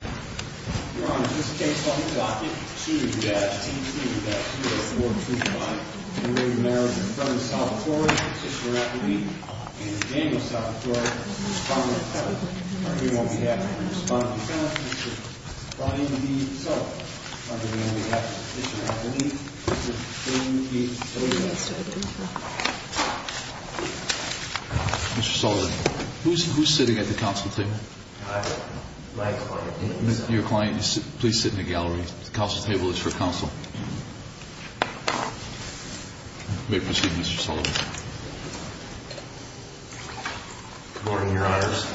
and Daniel Salvatore, the Respondent of the House, are here on behalf of the Respondent of the House, Mr. Brian E. Sullivan. On behalf of Mr. Rafferty, Mr. William P. O'Neill. Mr. Sullivan, who's sitting at the council table? Your client, please sit in the gallery. The council table is for council. You may proceed, Mr. Sullivan. Good morning, Your Honors.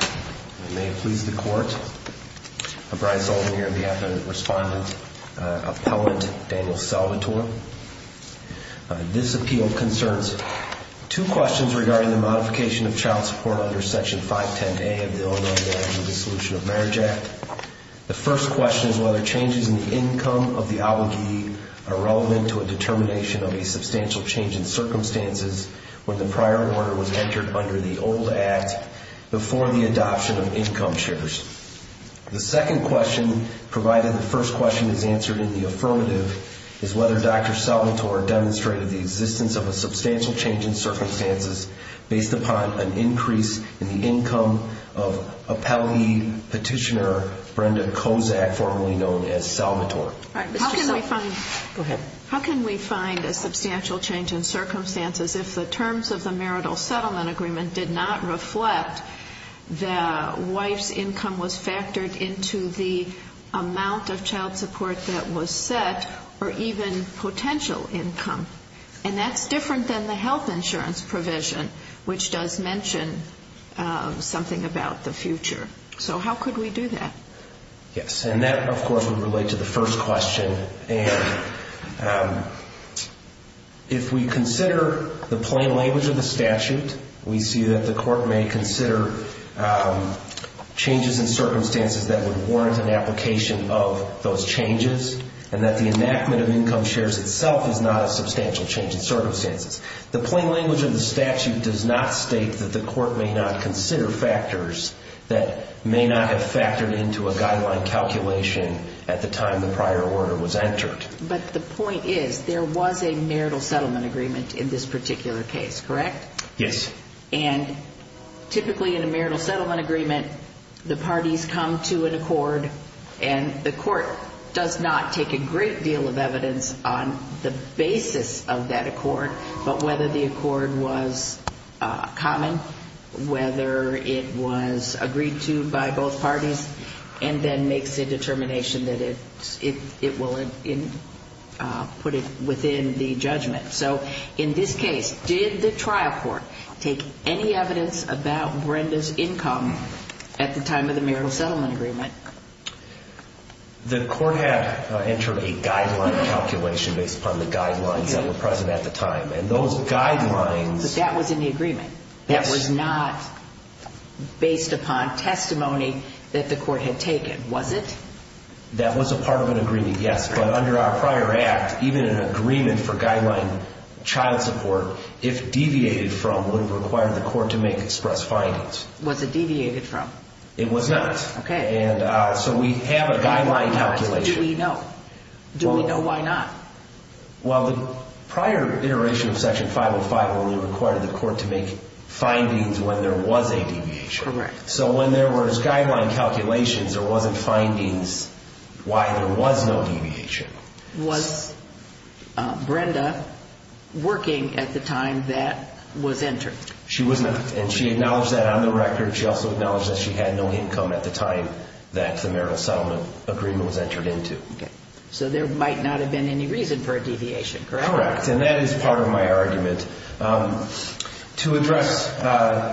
May it please the Court, Brian Sullivan here on behalf of the Respondent, Appellant Daniel Salvatore. This appeal concerns two questions regarding the modification of child support under Section 510A of the Illinois Marriage and Dissolution of Marriage Act. The first question is whether changes in the income of the obligee are relevant to a determination of a substantial change in circumstances when the prior order was entered under the old Act before the adoption of income shares. The second question, provided the first question is answered in the affirmative, is whether Dr. Salvatore demonstrated the existence of a substantial change in circumstances based upon an increase in the income of appellee petitioner Brenda Kozak, formerly known as Salvatore. How can we find a substantial change in circumstances if the terms of the marital settlement agreement did not reflect the wife's income was factored into the amount of child support that was set or even potential income? And that's different than the health insurance provision, which does mention something about the future. So how could we do that? Yes, and that, of course, would relate to the first question. And if we consider the plain language of the statute, we see that the Court may consider changes in circumstances that would warrant an application of those changes and that the enactment of income shares itself is not a substantial change in circumstances. The plain language of the statute does not state that the Court may not consider factors that may not have factored into a guideline calculation at the time the prior order was entered. But the point is there was a marital settlement agreement in this particular case, correct? Yes. And both parties come to an accord, and the Court does not take a great deal of evidence on the basis of that accord, but whether the accord was common, whether it was agreed to by both parties, and then makes a determination that it will put it within the judgment. So in this case, did the trial court take any evidence about Brenda's income at the time of the marital settlement agreement? The Court had entered a guideline calculation based upon the guidelines that were present at the time. And those guidelines... But that was in the agreement. Yes. That was not based upon testimony that the Court had taken, was it? That was a part of an agreement, yes. But under our prior act, even an agreement for guideline child support, if deviated from, would have required the Court to make express findings. Was it deviated from? It was not. Okay. And so we have a guideline calculation. Do we know? Do we know why not? Well, the prior iteration of Section 505 only required the Court to make findings when there was a deviation. Correct. So when there was working at the time that was entered. She was not. And she acknowledged that on the record. She also acknowledged that she had no income at the time that the marital settlement agreement was entered into. Okay. So there might not have been any reason for a deviation, correct? Correct. And that is part of my argument. To address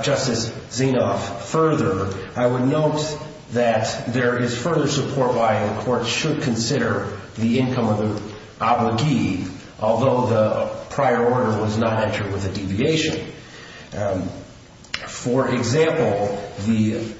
Justice Zinoff further, I would note that there is further support why the Court should consider the income of the parent, although the prior order was not entered with a deviation. For example, the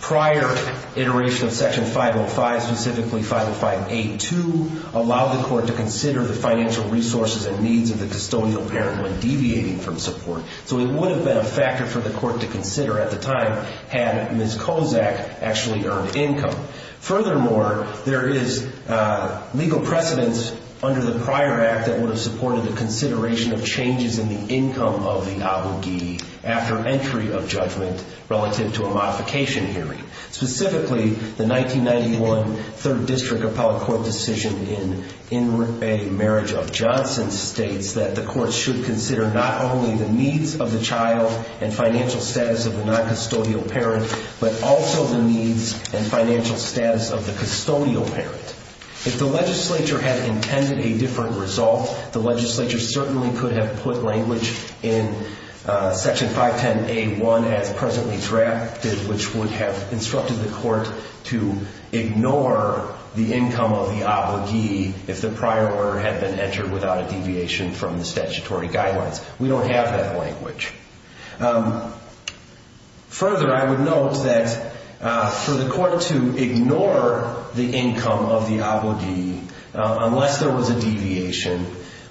prior iteration of Section 505, specifically 505A2, allowed the Court to consider the financial resources and needs of the custodial parent when deviating from support. So it would have been a factor for the Court to consider at the time had Ms. Kozak actually earned income. Furthermore, there is legal precedence under the prior act that would have supported the consideration of changes in the income of the abogee after entry of judgment relative to a modification hearing. Specifically, the 1991 Third District Appellate Court decision in a marriage of Johnson states that the Court should consider not only the needs of the custodial parent. If the legislature had intended a different result, the legislature certainly could have put language in Section 510A1 as presently drafted, which would have instructed the Court to ignore the income of the abogee if the prior order had been entered without a deviation from the statutory guidelines. We don't have that language. Further, I would argue that the Court's decision to ignore the income of the abogee unless there was a deviation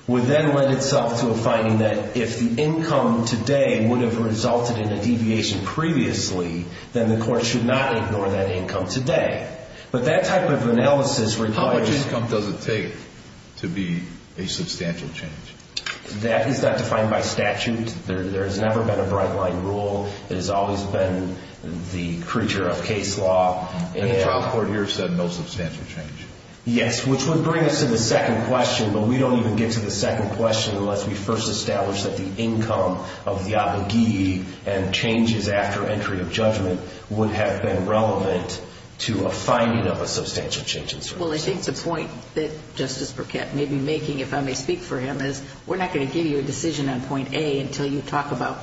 would then lend itself to a finding that if the income today would have resulted in a deviation previously, then the Court should not ignore that income today. But that type of analysis requires... How much income does it take to be a substantial change? That is not defined by statute. There has never been a bright line rule. It has always been the creature of case law. And the trial court here said no substantial change. Yes, which would bring us to the second question, but we don't even get to the second question unless we first establish that the income of the abogee and changes after entry of judgment would have been relevant to a finding of a substantial change in service. Well, I think the point that Justice Burkett may be making, if I may speak for him, is we're not going to give you a decision on point A until you talk about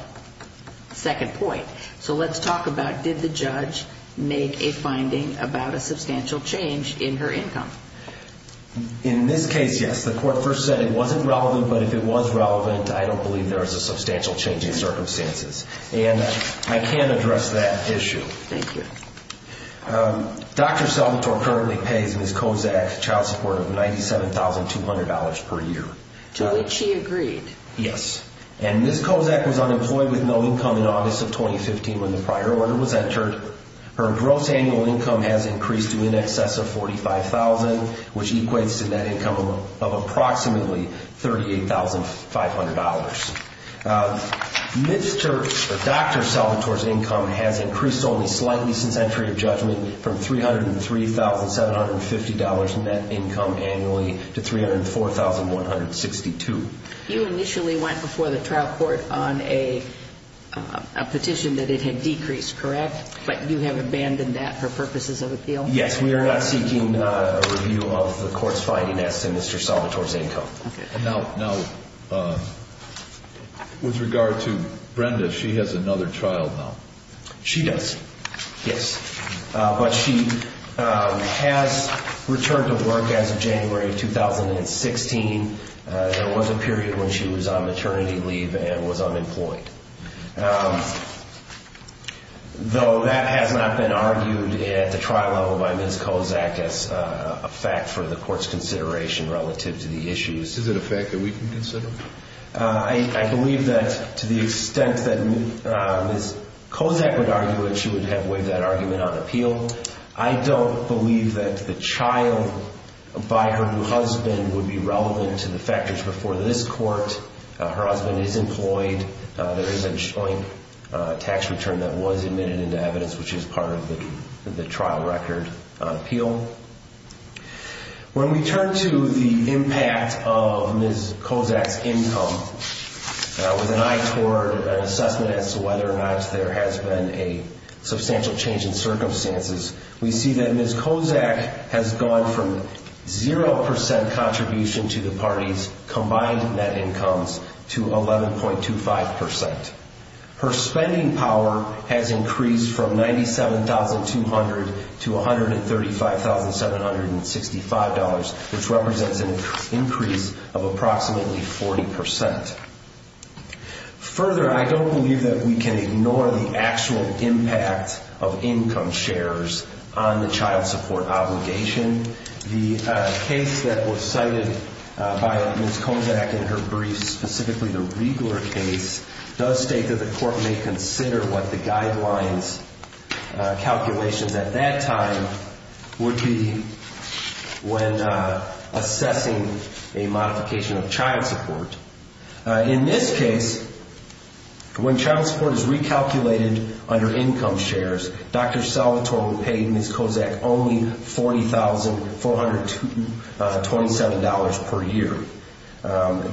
second point. So let's talk about did the judge make a finding about a substantial change in her income? In this case, yes. The Court first said it wasn't relevant, but if it was relevant, I don't believe there was a substantial change in circumstances. And I can address that issue. Thank you. Dr. Salvatore currently pays Ms. Kozak child support of $97,200 per year. To which she agreed. Yes. And Ms. Kozak was unemployed with no income in August of 2015 when the prior order was entered. Her gross annual income has increased to in excess of $45,000, which equates to net income of approximately $38,500. Mr. Dr. Salvatore's income has increased only slightly since entry of judgment from $303,750 net income annually to $304,162. You initially went before the trial court on a petition that it had decreased, correct? But you have abandoned that for purposes of appeal? Yes. We are not seeking a review of the Court's finding as to Mr. Salvatore's income. Now, with regard to Brenda, she has another child now. She does, yes. But she has returned to work as of January of 2016. There was a period when she was on maternity leave and was unemployed. Though that has not been argued at the trial level by Ms. Kozak as a fact for the Court's consideration relative to the issues. Is it a fact that we can consider? I believe that to the extent that Ms. Kozak would argue it, she would have waived that argument on appeal. I don't believe that the child by her new husband would be relevant to the factors before this Court. Her husband is employed. There is a joint tax return that was admitted into evidence, which is part of the trial record on appeal. When we turn to the impact of Ms. Kozak's income with an eye toward an assessment as to whether or not there has been a substantial change in circumstances, we see that Ms. Kozak has gone from 0% contribution to the party's combined net incomes to 11.25%. Her spending power has increased from $97,200 to $135,765, which represents an increase of approximately 40%. Further, I don't believe that we can ignore the actual impact of income shares on the child support obligation. The case that was cited by Ms. Kozak in her brief, specifically the Riegler case, does state that the Court may consider what the guidelines calculations at that time would be when assessing a modification of child support. In this case, when child support is recalculated under income shares, Dr. Salvatore would pay Ms. Kozak only $40,427 per year.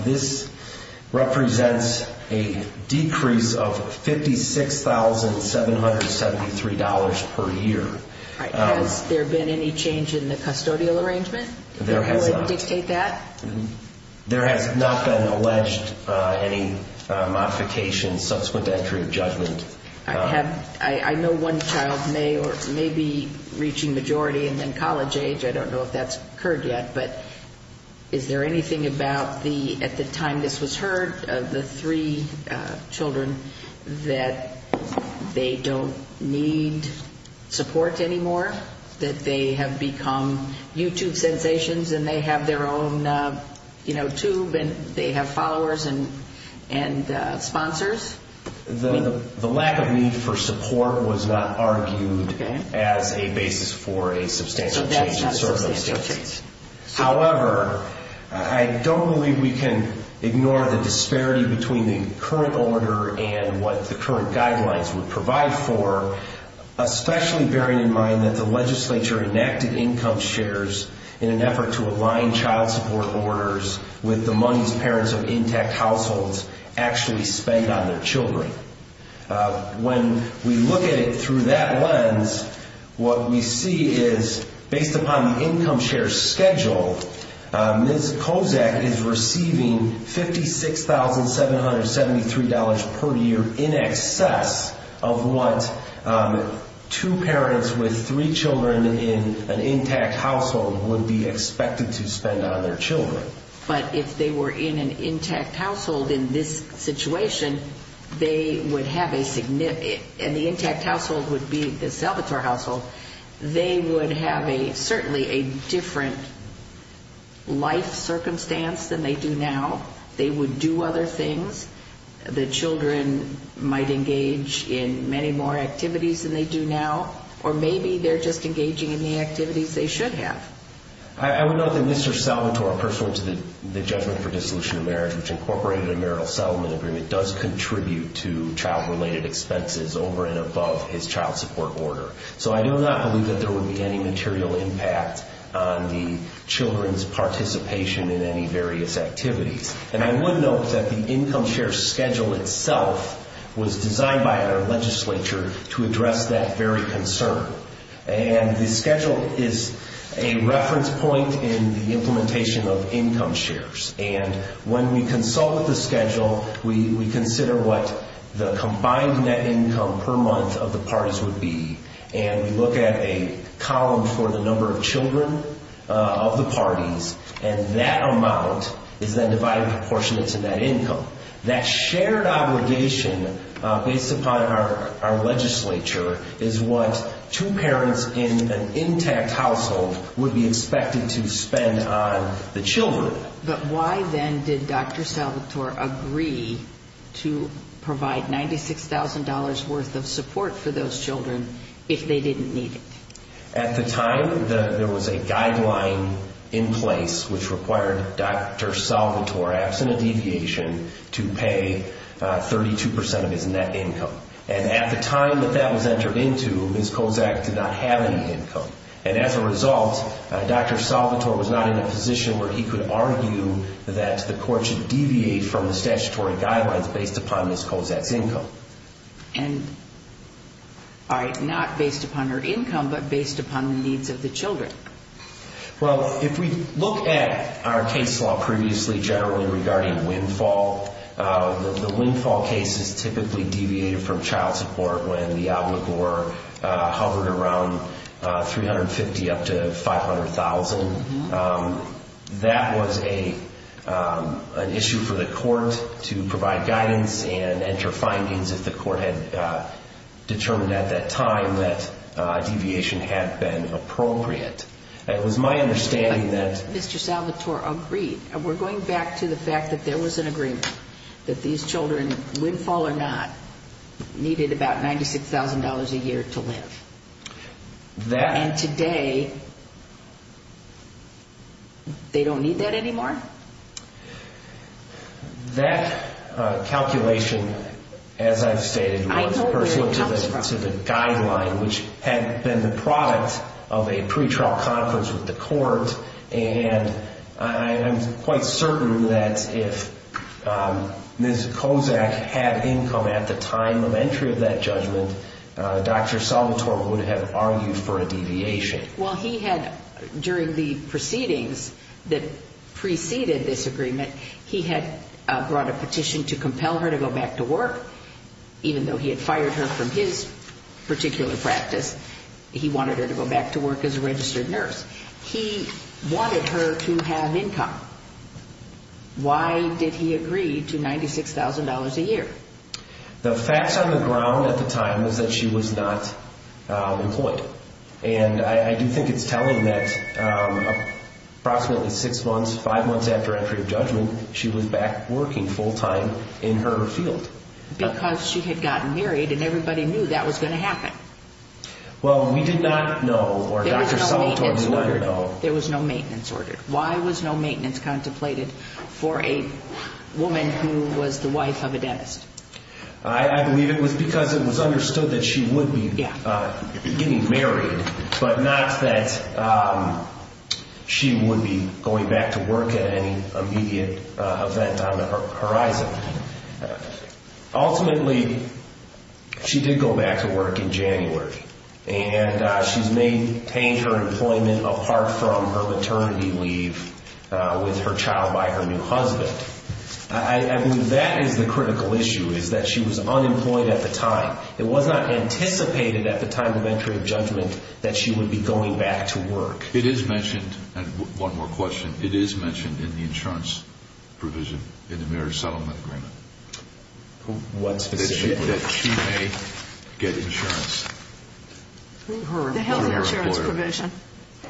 This represents a decrease of $56,773 per year. Has there been any change in the custodial arrangement that would dictate that? There has not been alleged any modification subsequent to entry of judgment. I know one child may be reaching majority and then college age. I don't know if that's occurred yet, but is there anything about at the time this was heard, the three children, that they don't need support anymore? That they have become YouTube sensations and they have their own tube and they have followers and sponsors? The lack of need for support was not argued as a basis for a substantial change. However, I don't believe we can ignore the disparity between the current order and what the current guidelines would provide for, especially bearing in mind that the legislature enacted income shares in an effort to align child support orders with the money parents of intact households actually spend on their children. When we look at it through that lens, what we see is, based upon the income share schedule, Ms. Kozak is receiving $56,773 per year in excess of what two parents with three children in an intact household would be expected to spend on their children. But if they were in an intact household in this situation, they would have a significant and the intact household would be the Salvatore household, they would have certainly a different life circumstance than they do now. They would do other things. The children might engage in many more activities than they do now, or maybe they're just engaging in the activities they should have. I would note that Mr. Salvatore pursuant to the judgment for dissolution of marriage, which incorporated a marital settlement agreement, does contribute to child-related expenses over and above his child support order. So I do not believe that there would be any material impact on the children's participation in any various activities. And I would note that the income share schedule itself was designed by our legislature to address that very concern. And the schedule is a reference point in the implementation of income shares. And when we consult with the schedule, we consider what the combined net income per month of the parties would be, and we look at a column for the number of children of the parties, and that amount is then divided in proportion to that income. That shared obligation based upon our legislature is what two parents in an intact household would be expected to spend on the children. But why then did Dr. Salvatore agree to provide $96,000 worth of support for those children if they didn't need it? At the time, there was a guideline in place which required Dr. Salvatore, absent a deviation, to pay 32 percent of his net income. And at the time that that was entered into, Ms. Kozak did not have any income. And as a result, Dr. Salvatore was not in a position where he could argue that the court should deviate from the statutory guidelines based upon Ms. Kozak's income. And, all right, not based upon her income, but based upon the needs of the children. Well, if we look at our case law previously generally regarding windfall, the windfall case is typically deviated from child support when the obligor hovered around 350 up to 500,000. That was an issue for the court to provide guidance and enter findings if the court had determined at that time that deviation had been appropriate. It was my understanding that Mr. Salvatore agreed. We're going back to the fact that there was an agreement that these children, windfall or not, needed about $96,000 a year to live. And today, they don't need that anymore? That calculation, as I've stated, was pursuant to the guideline, which had been the product of a pretrial conference with the court. And I'm quite certain that if Ms. Kozak had income at the time of entry of that judgment, Dr. Salvatore would have argued for a deviation. Well, he had, during the proceedings that preceded this agreement, he had brought a petition to compel her to go back to work, even though he had fired her from his particular practice. He wanted her to go back to work as a registered nurse. He wanted her to have income. Why did he agree to $96,000 a year? The facts on the ground at the time was that she was not employed. And I do think it's telling that approximately six months, five months after entry of judgment, she was back working full-time in her field. Because she had gotten married and everybody knew that was going to happen. Well, we did not know, or Dr. Salvatore did not know. There was no maintenance ordered. Why was no maintenance contemplated for a woman who was the wife of a dentist? I believe it was because it was understood that she would be getting married, but not that she would be going back to work at any immediate event on the horizon. Ultimately, she did go back to work in January. And she's maintained her employment apart from her maternity leave with her child by her new husband. I believe that is the critical issue, is that she was unemployed at the time. It was not anticipated at the time of entry of judgment that she would be going back to work. It is mentioned, and one more question, it is mentioned in the insurance provision in the marriage settlement agreement. What specifically? That she may get insurance through her employer. The health insurance provision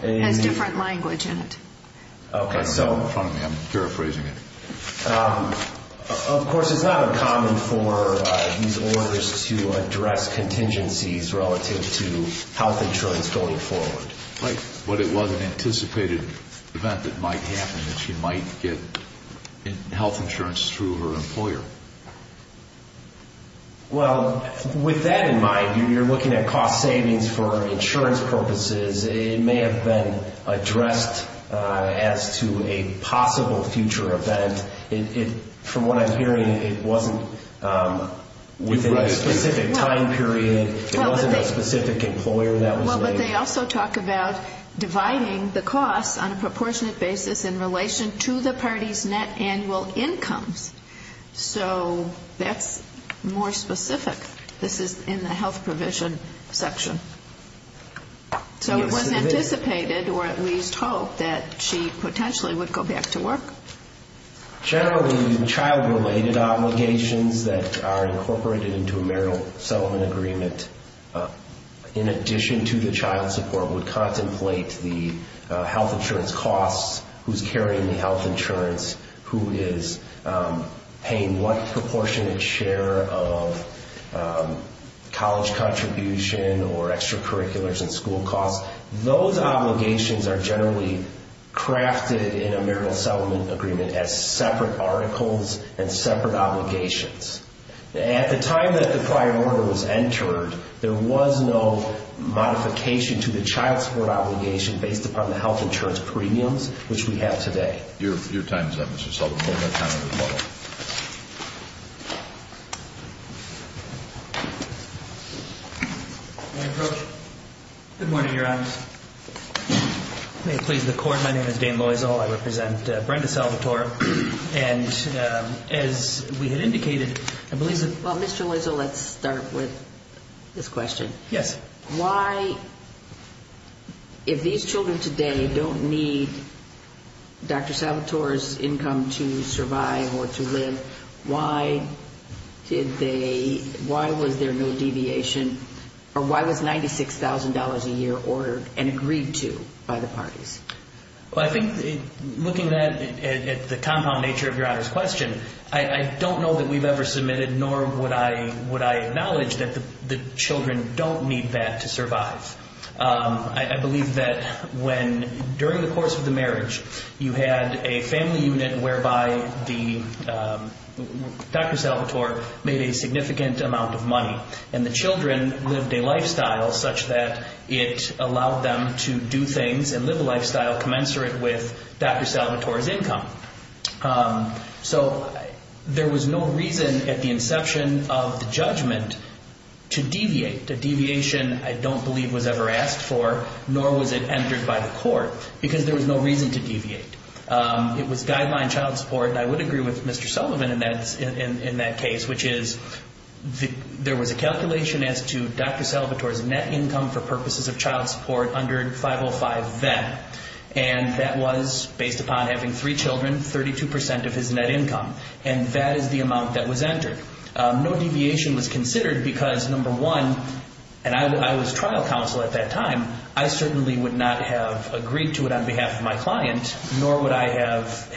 has different language in it. Okay, so in front of me, I'm paraphrasing it. Of course, it's not uncommon for these orders to address contingencies relative to health insurance going forward. Right. But it was an anticipated event that might happen, that she might get health insurance through her employer. Well, with that in mind, you're looking at cost savings for insurance purposes. It may have been addressed as to a possible future event. From what I'm hearing, it wasn't within a specific time period. But they also talk about dividing the costs on a proportionate basis in relation to the party's net annual incomes. So that's more specific. This is in the health provision section. So it was anticipated, or at least hoped, that she potentially would go back to work. Generally, child-related obligations that are incorporated into a marriage settlement agreement, in addition to the child support, would contemplate the health insurance costs, who's carrying the health insurance, who is paying what proportionate share of college contribution or extracurriculars and school costs. Those obligations are generally crafted in a marriage settlement agreement as separate articles and separate obligations. At the time that the prior order was entered, there was no modification to the child support obligation based upon the health insurance premiums, which we have today. Your time is up, Mr. Sullivan. Good morning, Your Honors. May it please the Court, my name is Dan Loisel. I represent Brenda Salvatore. And as we had indicated, I believe that... Well, Mr. Loisel, let's start with this question. Yes. Why, if these children today don't need Dr. Salvatore's income to survive or to live, why did they, why was there no deviation, or why was $96,000 a year ordered and agreed to by the parties? Well, I think looking at the compound nature of Your Honor's question, I don't know that we've ever submitted, nor would I acknowledge that the children don't need that to survive. I believe that when, during the course of the marriage, you had a family unit whereby Dr. Salvatore made a significant amount of money, and the children lived a lifestyle such that it allowed them to do things and live a lifestyle commensurate with Dr. Salvatore's income. So there was no reason at the inception of the judgment to deviate, a deviation I don't believe was ever asked for, nor was it entered by the Court, because there was no reason to deviate. It was guideline child support, and I would agree with Mr. Sullivan in that case, which is there was a calculation as to Dr. Salvatore's net income for purposes of child support under 505-VET, and that was based upon having three children, 32% of his net income, and that is the amount that was entered. No deviation was considered because, number one, and I was trial counsel at that time, I certainly would not have agreed to it on behalf of my client, nor would I have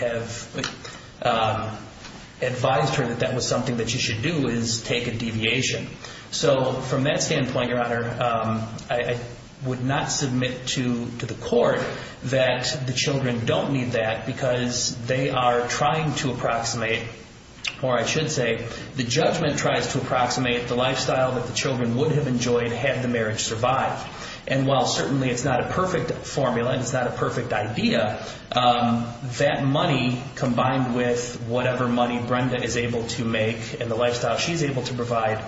advised her that that was something that she should do, is take a deviation. So from that standpoint, Your Honor, I would not submit to the Court that the children don't need that because they are trying to approximate, or I should say, the judgment tries to approximate the lifestyle that the children would have enjoyed had the marriage survived. And while certainly it's not a perfect formula and it's not a perfect idea, that money combined with whatever money Brenda is able to make and the lifestyle she's able to provide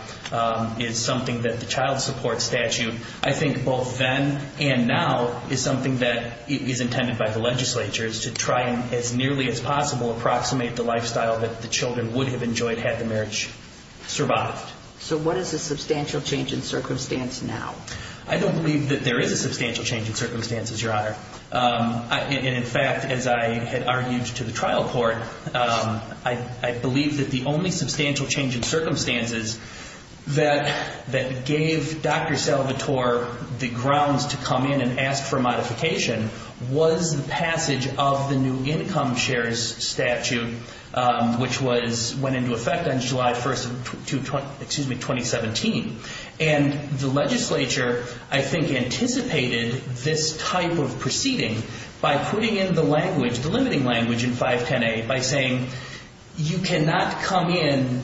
is something that the child support statute, I think both then and now is something that is intended by the legislature to try as nearly as possible to approximate the lifestyle that the children would have enjoyed had the marriage survived. So what is the substantial change in circumstance now? I don't believe that there is a substantial change in circumstances, Your Honor. In fact, as I had argued to the trial court, I believe that the only substantial change in circumstances that gave Dr. Salvatore the grounds to come in and ask for modification was the passage of the new income shares statute, which went into effect on July 1, 2017. And the legislature, I think, anticipated this type of proceeding by putting in the language, the limiting language in 510A, by saying you cannot come in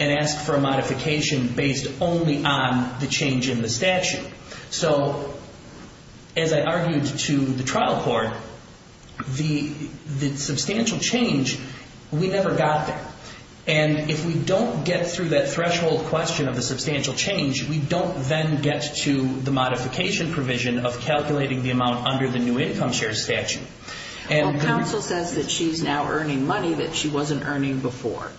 and ask for a modification based only on the change in the statute. So as I argued to the trial court, the substantial change, we never got there. And if we don't get through that threshold question of the substantial change, we don't then get to the modification provision of calculating the amount under the new income shares statute. Well, counsel says that she's now earning money that she wasn't earning before.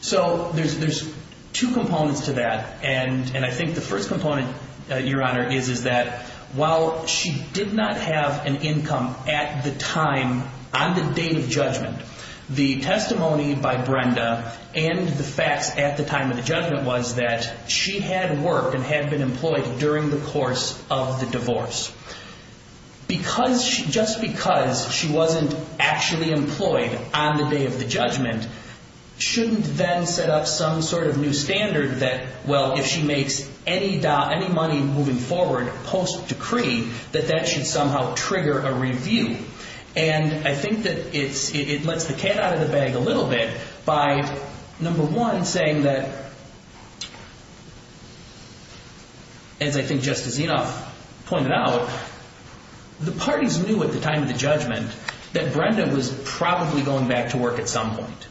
So there's two components to that, and I think the first component, Your Honor, is that while she did not have an income at the time on the day of judgment, the testimony by Brenda and the facts at the time of the judgment was that she had work and had been employed during the course of the divorce. Just because she wasn't actually employed on the day of the judgment shouldn't then set up some sort of new standard that, well, if she makes any money moving forward post-decree, that that should somehow trigger a review. And I think that it lets the cat out of the bag a little bit by, number one, saying that, as I think Justice Zinoff pointed out, the parties knew at the time of the judgment that Brenda was probably going back to work at some point.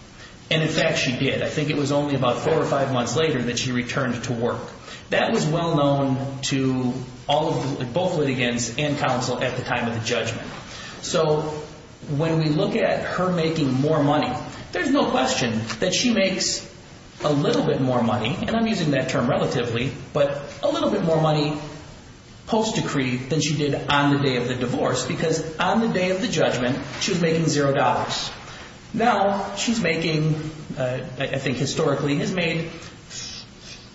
And, in fact, she did. I think it was only about four or five months later that she returned to work. That was well known to both litigants and counsel at the time of the judgment. So when we look at her making more money, there's no question that she makes a little bit more money, and I'm using that term relatively, but a little bit more money post-decree than she did on the day of the divorce because on the day of the judgment she was making $0. Now she's making, I think historically, has made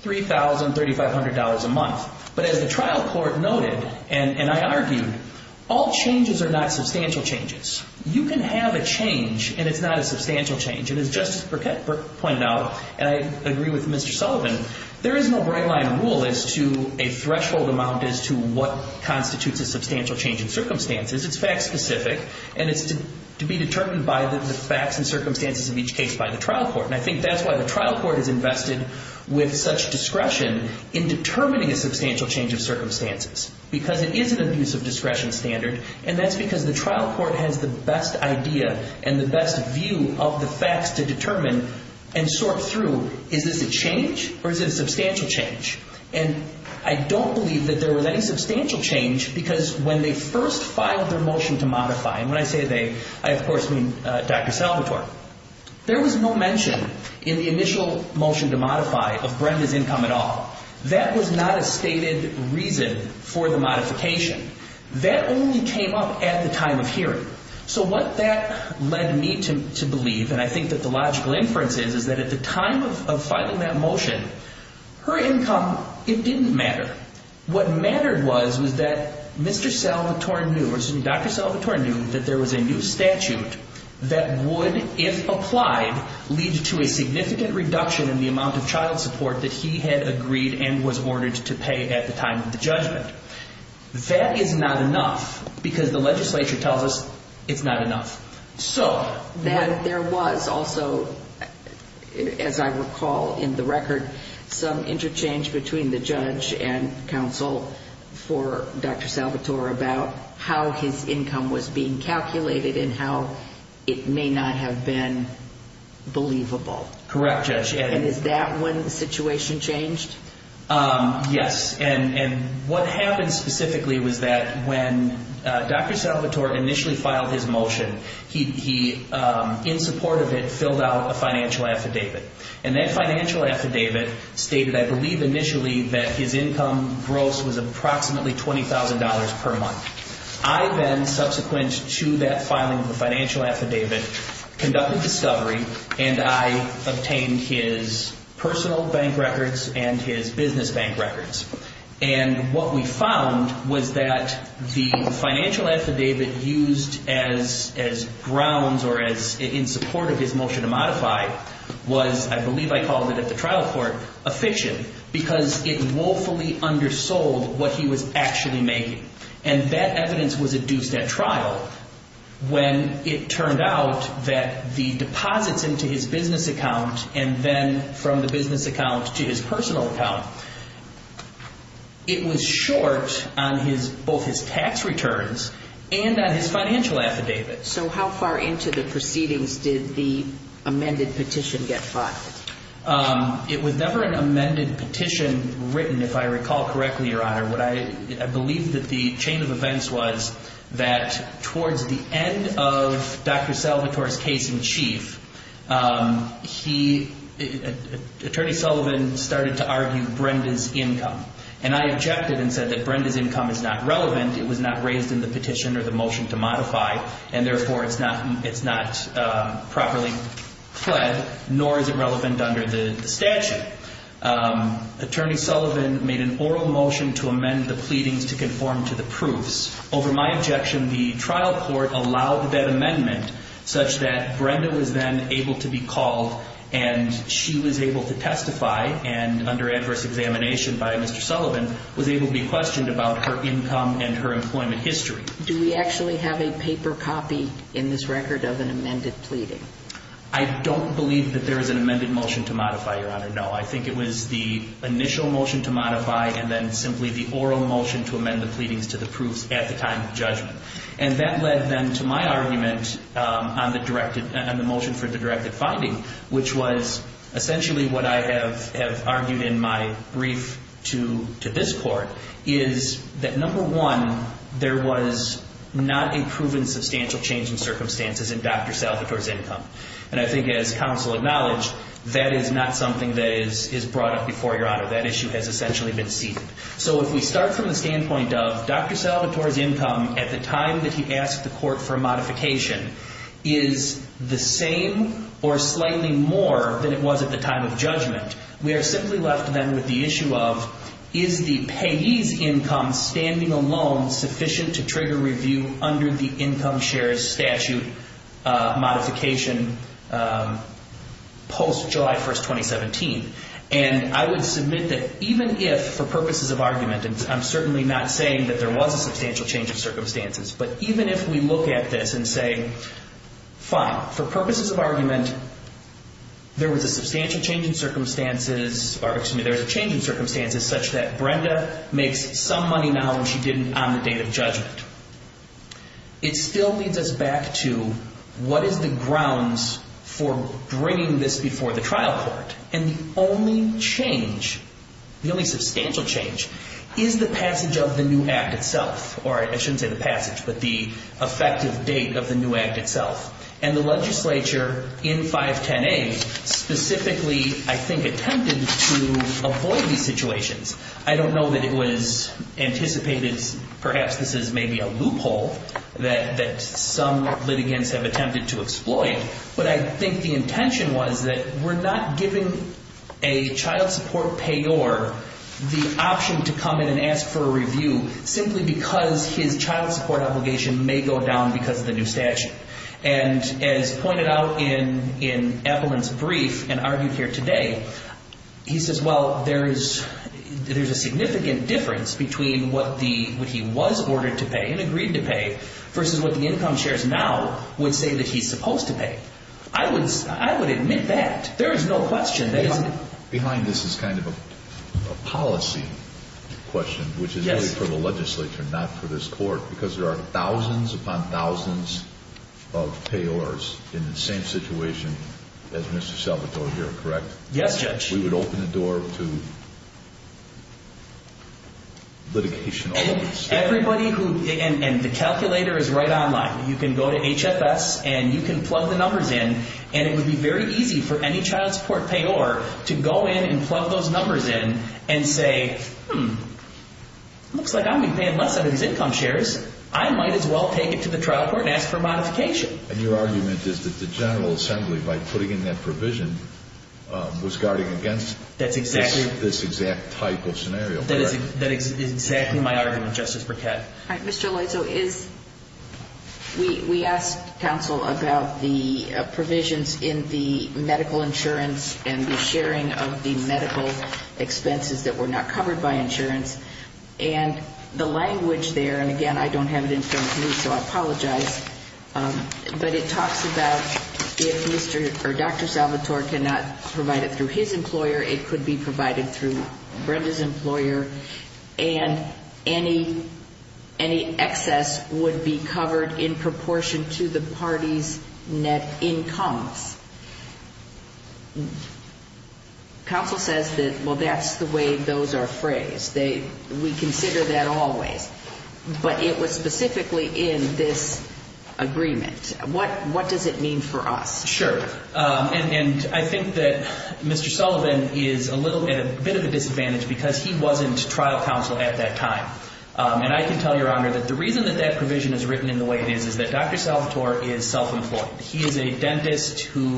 $3,3500 a month. But as the trial court noted, and I argued, all changes are not substantial changes. You can have a change, and it's not a substantial change. And as Justice Burkett pointed out, and I agree with Mr. Sullivan, there is no right-line rule as to a threshold amount as to what constitutes a substantial change in circumstances. It's fact-specific, and it's to be determined by the facts and circumstances of each case by the trial court. And I think that's why the trial court is invested with such discretion in determining a substantial change of circumstances because it is an abuse of discretion standard, and that's because the trial court has the best idea and the best view of the facts to determine and sort through, is this a change or is it a substantial change? And I don't believe that there was any substantial change because when they first filed their motion to modify, and when I say they, I, of course, mean Dr. Salvatore, there was no mention in the initial motion to modify of Brenda's income at all. That was not a stated reason for the modification. That only came up at the time of hearing. So what that led me to believe, and I think that the logical inference is, is that at the time of filing that motion, her income, it didn't matter. What mattered was was that Mr. Salvatore knew, or excuse me, Dr. Salvatore knew that there was a new statute that would, if applied, lead to a significant reduction in the amount of child support that he had agreed and was ordered to pay at the time of the judgment. That is not enough because the legislature tells us it's not enough. So... Then there was also, as I recall in the record, some interchange between the judge and counsel for Dr. Salvatore about how his income was being calculated and how it may not have been believable. Correct, Judge. And is that when the situation changed? Yes. And what happened specifically was that when Dr. Salvatore initially filed his motion, he, in support of it, filled out a financial affidavit. And that financial affidavit stated, I believe initially, that his income gross was approximately $20,000 per month. I then, subsequent to that filing of the financial affidavit, conducted discovery, and I obtained his personal bank records and his business bank records. And what we found was that the financial affidavit used as grounds or in support of his motion to modify was, I believe I called it at the trial court, a fiction because it woefully undersold what he was actually making. And that evidence was adduced at trial when it turned out that the deposits into his business account and then from the business account to his personal account, it was short on both his tax returns and on his financial affidavit. So how far into the proceedings did the amended petition get filed? It was never an amended petition written, if I recall correctly, Your Honor. I believe that the chain of events was that towards the end of Dr. Salvatore's case in chief, he, Attorney Sullivan, started to argue Brenda's income. And I objected and said that Brenda's income is not relevant. It was not raised in the petition or the motion to modify, and therefore it's not properly fled, nor is it relevant under the statute. Attorney Sullivan made an oral motion to amend the pleadings to conform to the proofs. Over my objection, the trial court allowed that amendment such that Brenda was then able to be called and she was able to testify and under adverse examination by Mr. Sullivan, was able to be questioned about her income and her employment history. Do we actually have a paper copy in this record of an amended pleading? I don't believe that there is an amended motion to modify, Your Honor. No, I think it was the initial motion to modify and then simply the oral motion to amend the pleadings to the proofs at the time of judgment. And that led then to my argument on the motion for the directed finding, which was essentially what I have argued in my brief to this court, is that number one, there was not a proven substantial change in circumstances in Dr. Salvatore's income. And I think as counsel acknowledged, that is not something that is brought up before Your Honor. That issue has essentially been seated. So if we start from the standpoint of Dr. Salvatore's income at the time that he asked the court for modification is the same or slightly more than it was at the time of judgment, we are simply left then with the issue of is the payee's income standing alone sufficient to trigger review under the income shares statute modification post-July 1st, 2017? And I would submit that even if for purposes of argument, and I'm certainly not saying that there was a substantial change in circumstances, but even if we look at this and say, fine, for purposes of argument, there was a substantial change in circumstances, or excuse me, it still leads us back to what is the grounds for bringing this before the trial court? And the only change, the only substantial change, is the passage of the new act itself. Or I shouldn't say the passage, but the effective date of the new act itself. And the legislature in 510A specifically, I think, attempted to avoid these situations. I don't know that it was anticipated, perhaps this is maybe a loophole that some litigants have attempted to exploit, but I think the intention was that we're not giving a child support payor the option to come in and ask for a review simply because his child support obligation may go down because of the new statute. And as pointed out in Eppelin's brief and argued here today, he says, well, there's a significant difference between what he was ordered to pay and agreed to pay versus what the income shares now would say that he's supposed to pay. I would admit that. There is no question that isn't. Behind this is kind of a policy question, which is really for the legislature, not for this court, because there are thousands upon thousands of payors in the same situation as Mr. Salvatore here, correct? Yes, Judge. We would open the door to litigation. Everybody who, and the calculator is right online. You can go to HFS and you can plug the numbers in, and it would be very easy for any child support payor to go in and plug those numbers in and say, hmm, looks like I'm going to be paying less under these income shares. I might as well take it to the trial court and ask for a modification. And your argument is that the General Assembly, by putting in that provision, was guarding against this exact type of scenario. That is exactly my argument, Justice Burkett. We asked counsel about the provisions in the medical insurance and the sharing of the medical expenses that were not covered by insurance. And the language there, and again, I don't have it in front of me, so I apologize, but it talks about if Dr. Salvatore cannot provide it through his employer, it could be provided through Brenda's employer. And any excess would be covered in proportion to the party's net incomes. Counsel says that, well, that's the way those are phrased. We consider that always. But it was specifically in this agreement. What does it mean for us? Sure. And I think that Mr. Sullivan is at a bit of a disadvantage because he wasn't trial counsel at that time. And I can tell Your Honor that the reason that that provision is written in the way it is is that Dr. Salvatore is self-employed. He is a dentist who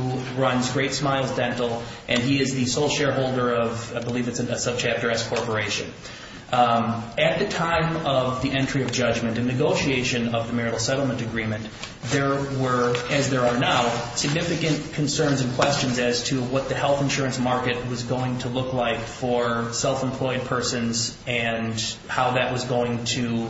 runs Great Smiles Dental, and he is the sole shareholder of, I believe it's a subchapter S corporation. At the time of the entry of judgment and negotiation of the marital settlement agreement, there were, as there are now, significant concerns and questions as to what the health insurance market was going to look like for self-employed persons and how that was going to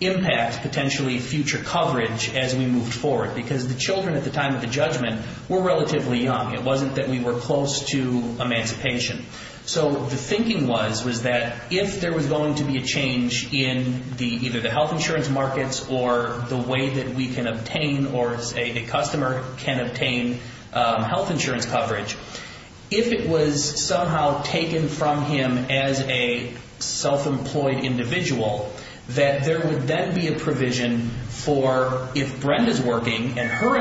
impact potentially future coverage as we moved forward. Because the children at the time of the judgment were relatively young. It wasn't that we were close to emancipation. So the thinking was that if there was going to be a change in either the health insurance markets or the way that we can obtain or, say, a customer can obtain health insurance coverage, if it was somehow taken from him as a self-employed individual, that there would then be a provision for if Brenda's working and her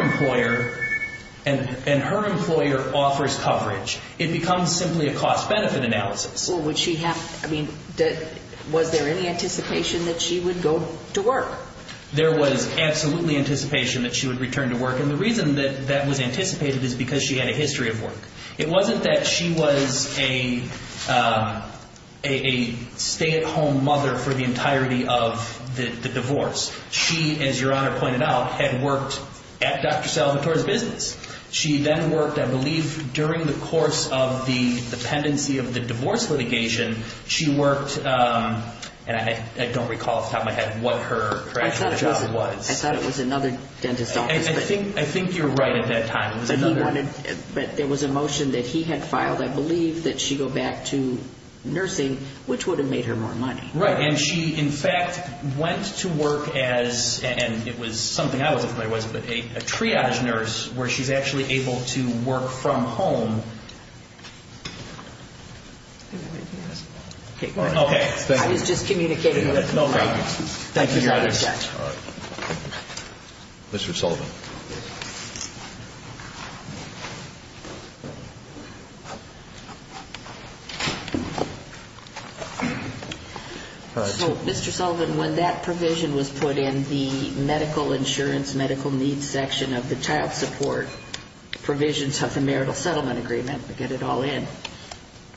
employer offers coverage. It becomes simply a cost-benefit analysis. So would she have, I mean, was there any anticipation that she would go to work? There was absolutely anticipation that she would return to work, and the reason that that was anticipated is because she had a history of work. It wasn't that she was a stay-at-home mother for the entirety of the divorce. She, as Your Honor pointed out, had worked at Dr. Salvatore's business. She then worked, I believe, during the course of the pendency of the divorce litigation. She worked, and I don't recall off the top of my head what her actual job was. I thought it was another dentist's office. I think you're right at that time. But there was a motion that he had filed, I believe, that she go back to nursing, which would have made her more money. Right, and she, in fact, went to work as, and it was something I wasn't familiar with, a triage nurse where she's actually able to work from home. I was just communicating with you. Thank you, Your Honor. Mr. Sullivan. So, Mr. Sullivan, when that provision was put in the medical insurance, medical needs section of the child support provisions of the marital settlement agreement, to get it all in,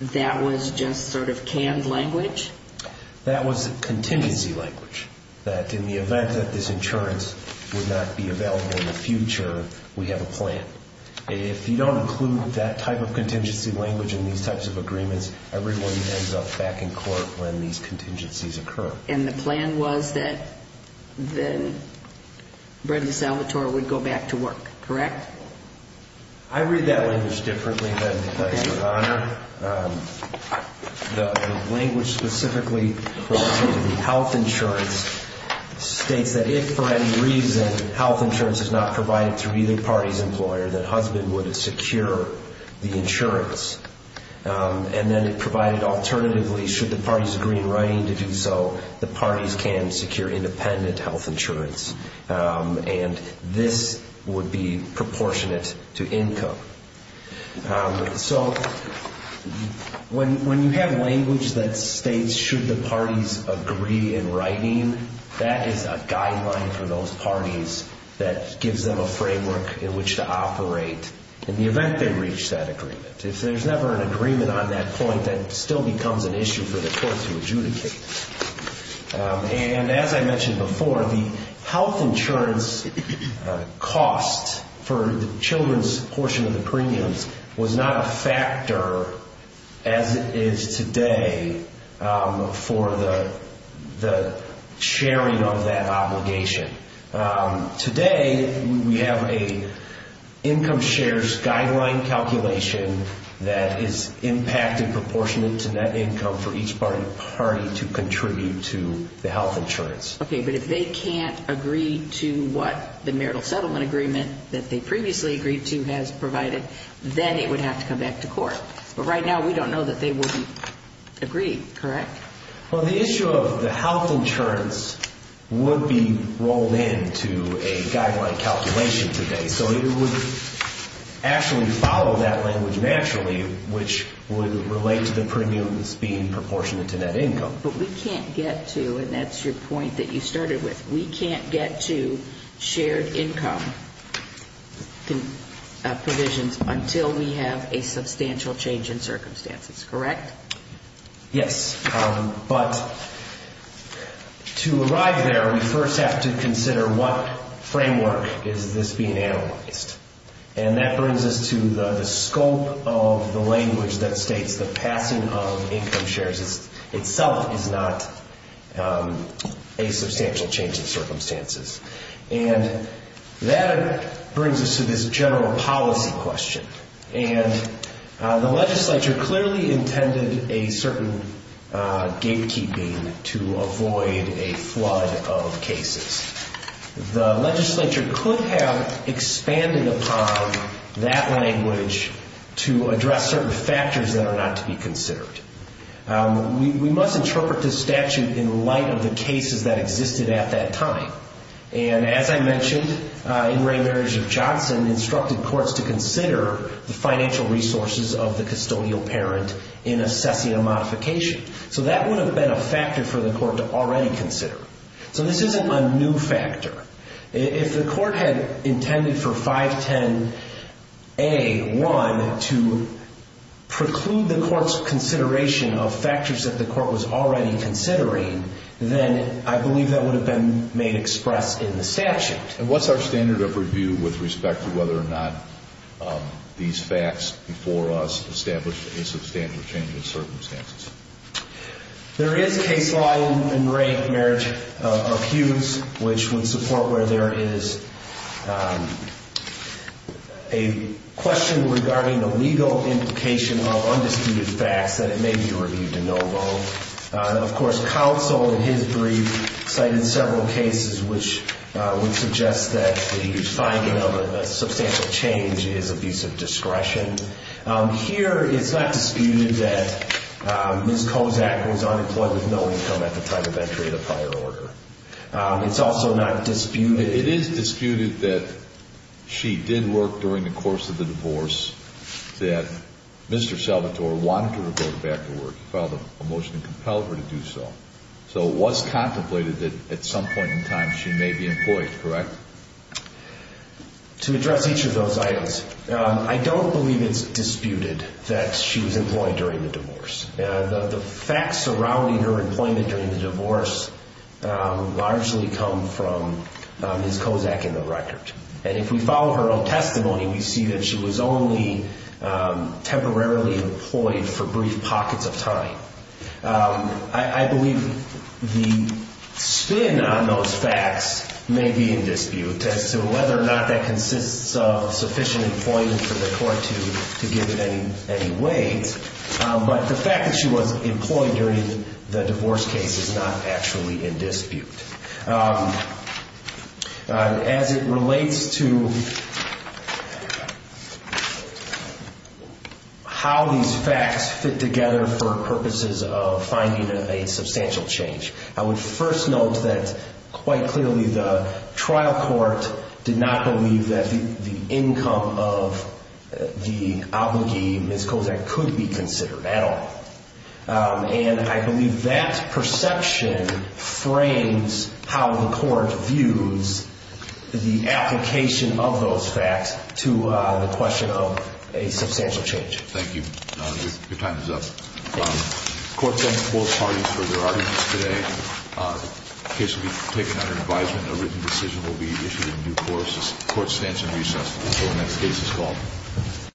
that was just sort of canned language? That was contingency language, that in the event that this insurance would not be available in the future, we have a plan. If you don't include that type of contingency language in these types of agreements, everyone ends up back in court when these contingencies occur. And the plan was that then Brenda Salvatore would go back to work, correct? I read that language differently than you, Your Honor. The language specifically for health insurance states that if for any reason health insurance is not provided through either party's employer, that husband would secure the insurance. And then it provided alternatively should the parties agree in writing to do so, the parties can secure independent health insurance. And this would be proportionate to income. So when you have language that states should the parties agree in writing, that is a guideline for those parties that gives them a framework in which to operate in the event they reach that agreement. If there's never an agreement on that point, that still becomes an issue for the courts to adjudicate. And as I mentioned before, the health insurance cost for the children's portion of the premiums was not a factor as it is today for the sharing of that obligation. Today we have an income shares guideline calculation that is impacted proportionate to net income for each party to contribute to the health insurance. Okay, but if they can't agree to what the marital settlement agreement that they previously agreed to has provided, then it would have to come back to court. But right now we don't know that they would agree, correct? Well, the issue of the health insurance would be rolled into a guideline calculation today. So it would actually follow that language naturally, which would relate to the premiums being proportionate to net income. But we can't get to, and that's your point that you started with, we can't get to shared income provisions until we have a substantial change in circumstances, correct? Yes. But to arrive there, we first have to consider what framework is this being analyzed. And that brings us to the scope of the language that states the passing of income shares itself is not a substantial change in circumstances. And that brings us to this general policy question. And the legislature clearly intended a certain gatekeeping to avoid a flood of cases. The legislature could have expanded upon that language to address certain factors that are not to be considered. We must interpret this statute in light of the cases that existed at that time. And as I mentioned, Ingray Marriage of Johnson instructed courts to consider the financial resources of the custodial parent in assessing a modification. So that would have been a factor for the court to already consider. So this isn't a new factor. If the court had intended for 510A1 to preclude the court's consideration of factors that the court was already considering, then I believe that would have been made expressed in the statute. And what's our standard of review with respect to whether or not these facts before us established a substantial change in circumstances? There is case law in Ingray Marriage of Hughes which would support where there is a question regarding the legal implication of undisputed facts that it may be reviewed to no vote. Of course, counsel in his brief cited several cases which would suggest that the finding of a substantial change is abuse of discretion. Here, it's not disputed that Ms. Kozak was unemployed with no income at the time of entry of the prior order. It's also not disputed... It is disputed that she did work during the course of the divorce, that Mr. Salvatore wanted her to go back to work, filed a motion to compel her to do so. So it was contemplated that at some point in time she may be employed, correct? To address each of those items, I don't believe it's disputed that she was employed during the divorce. The facts surrounding her employment during the divorce largely come from Ms. Kozak in the record. And if we follow her own testimony, we see that she was only temporarily employed for brief pockets of time. I believe the spin on those facts may be in dispute as to whether or not that consists of sufficient employment for the court to give it any weight. But the fact that she was employed during the divorce case is not actually in dispute. As it relates to how these facts fit together for purposes of finding a substantial change, I would first note that quite clearly the trial court did not believe that the income of the obligee, Ms. Kozak, could be considered at all. And I believe that perception frames how the court views the application of those facts to the question of a substantial change. Thank you. Your time is up. Court thanks both parties for their arguments today. The case will be taken under advisement. A written decision will be issued in due course. The court stands in recess until the next case is called.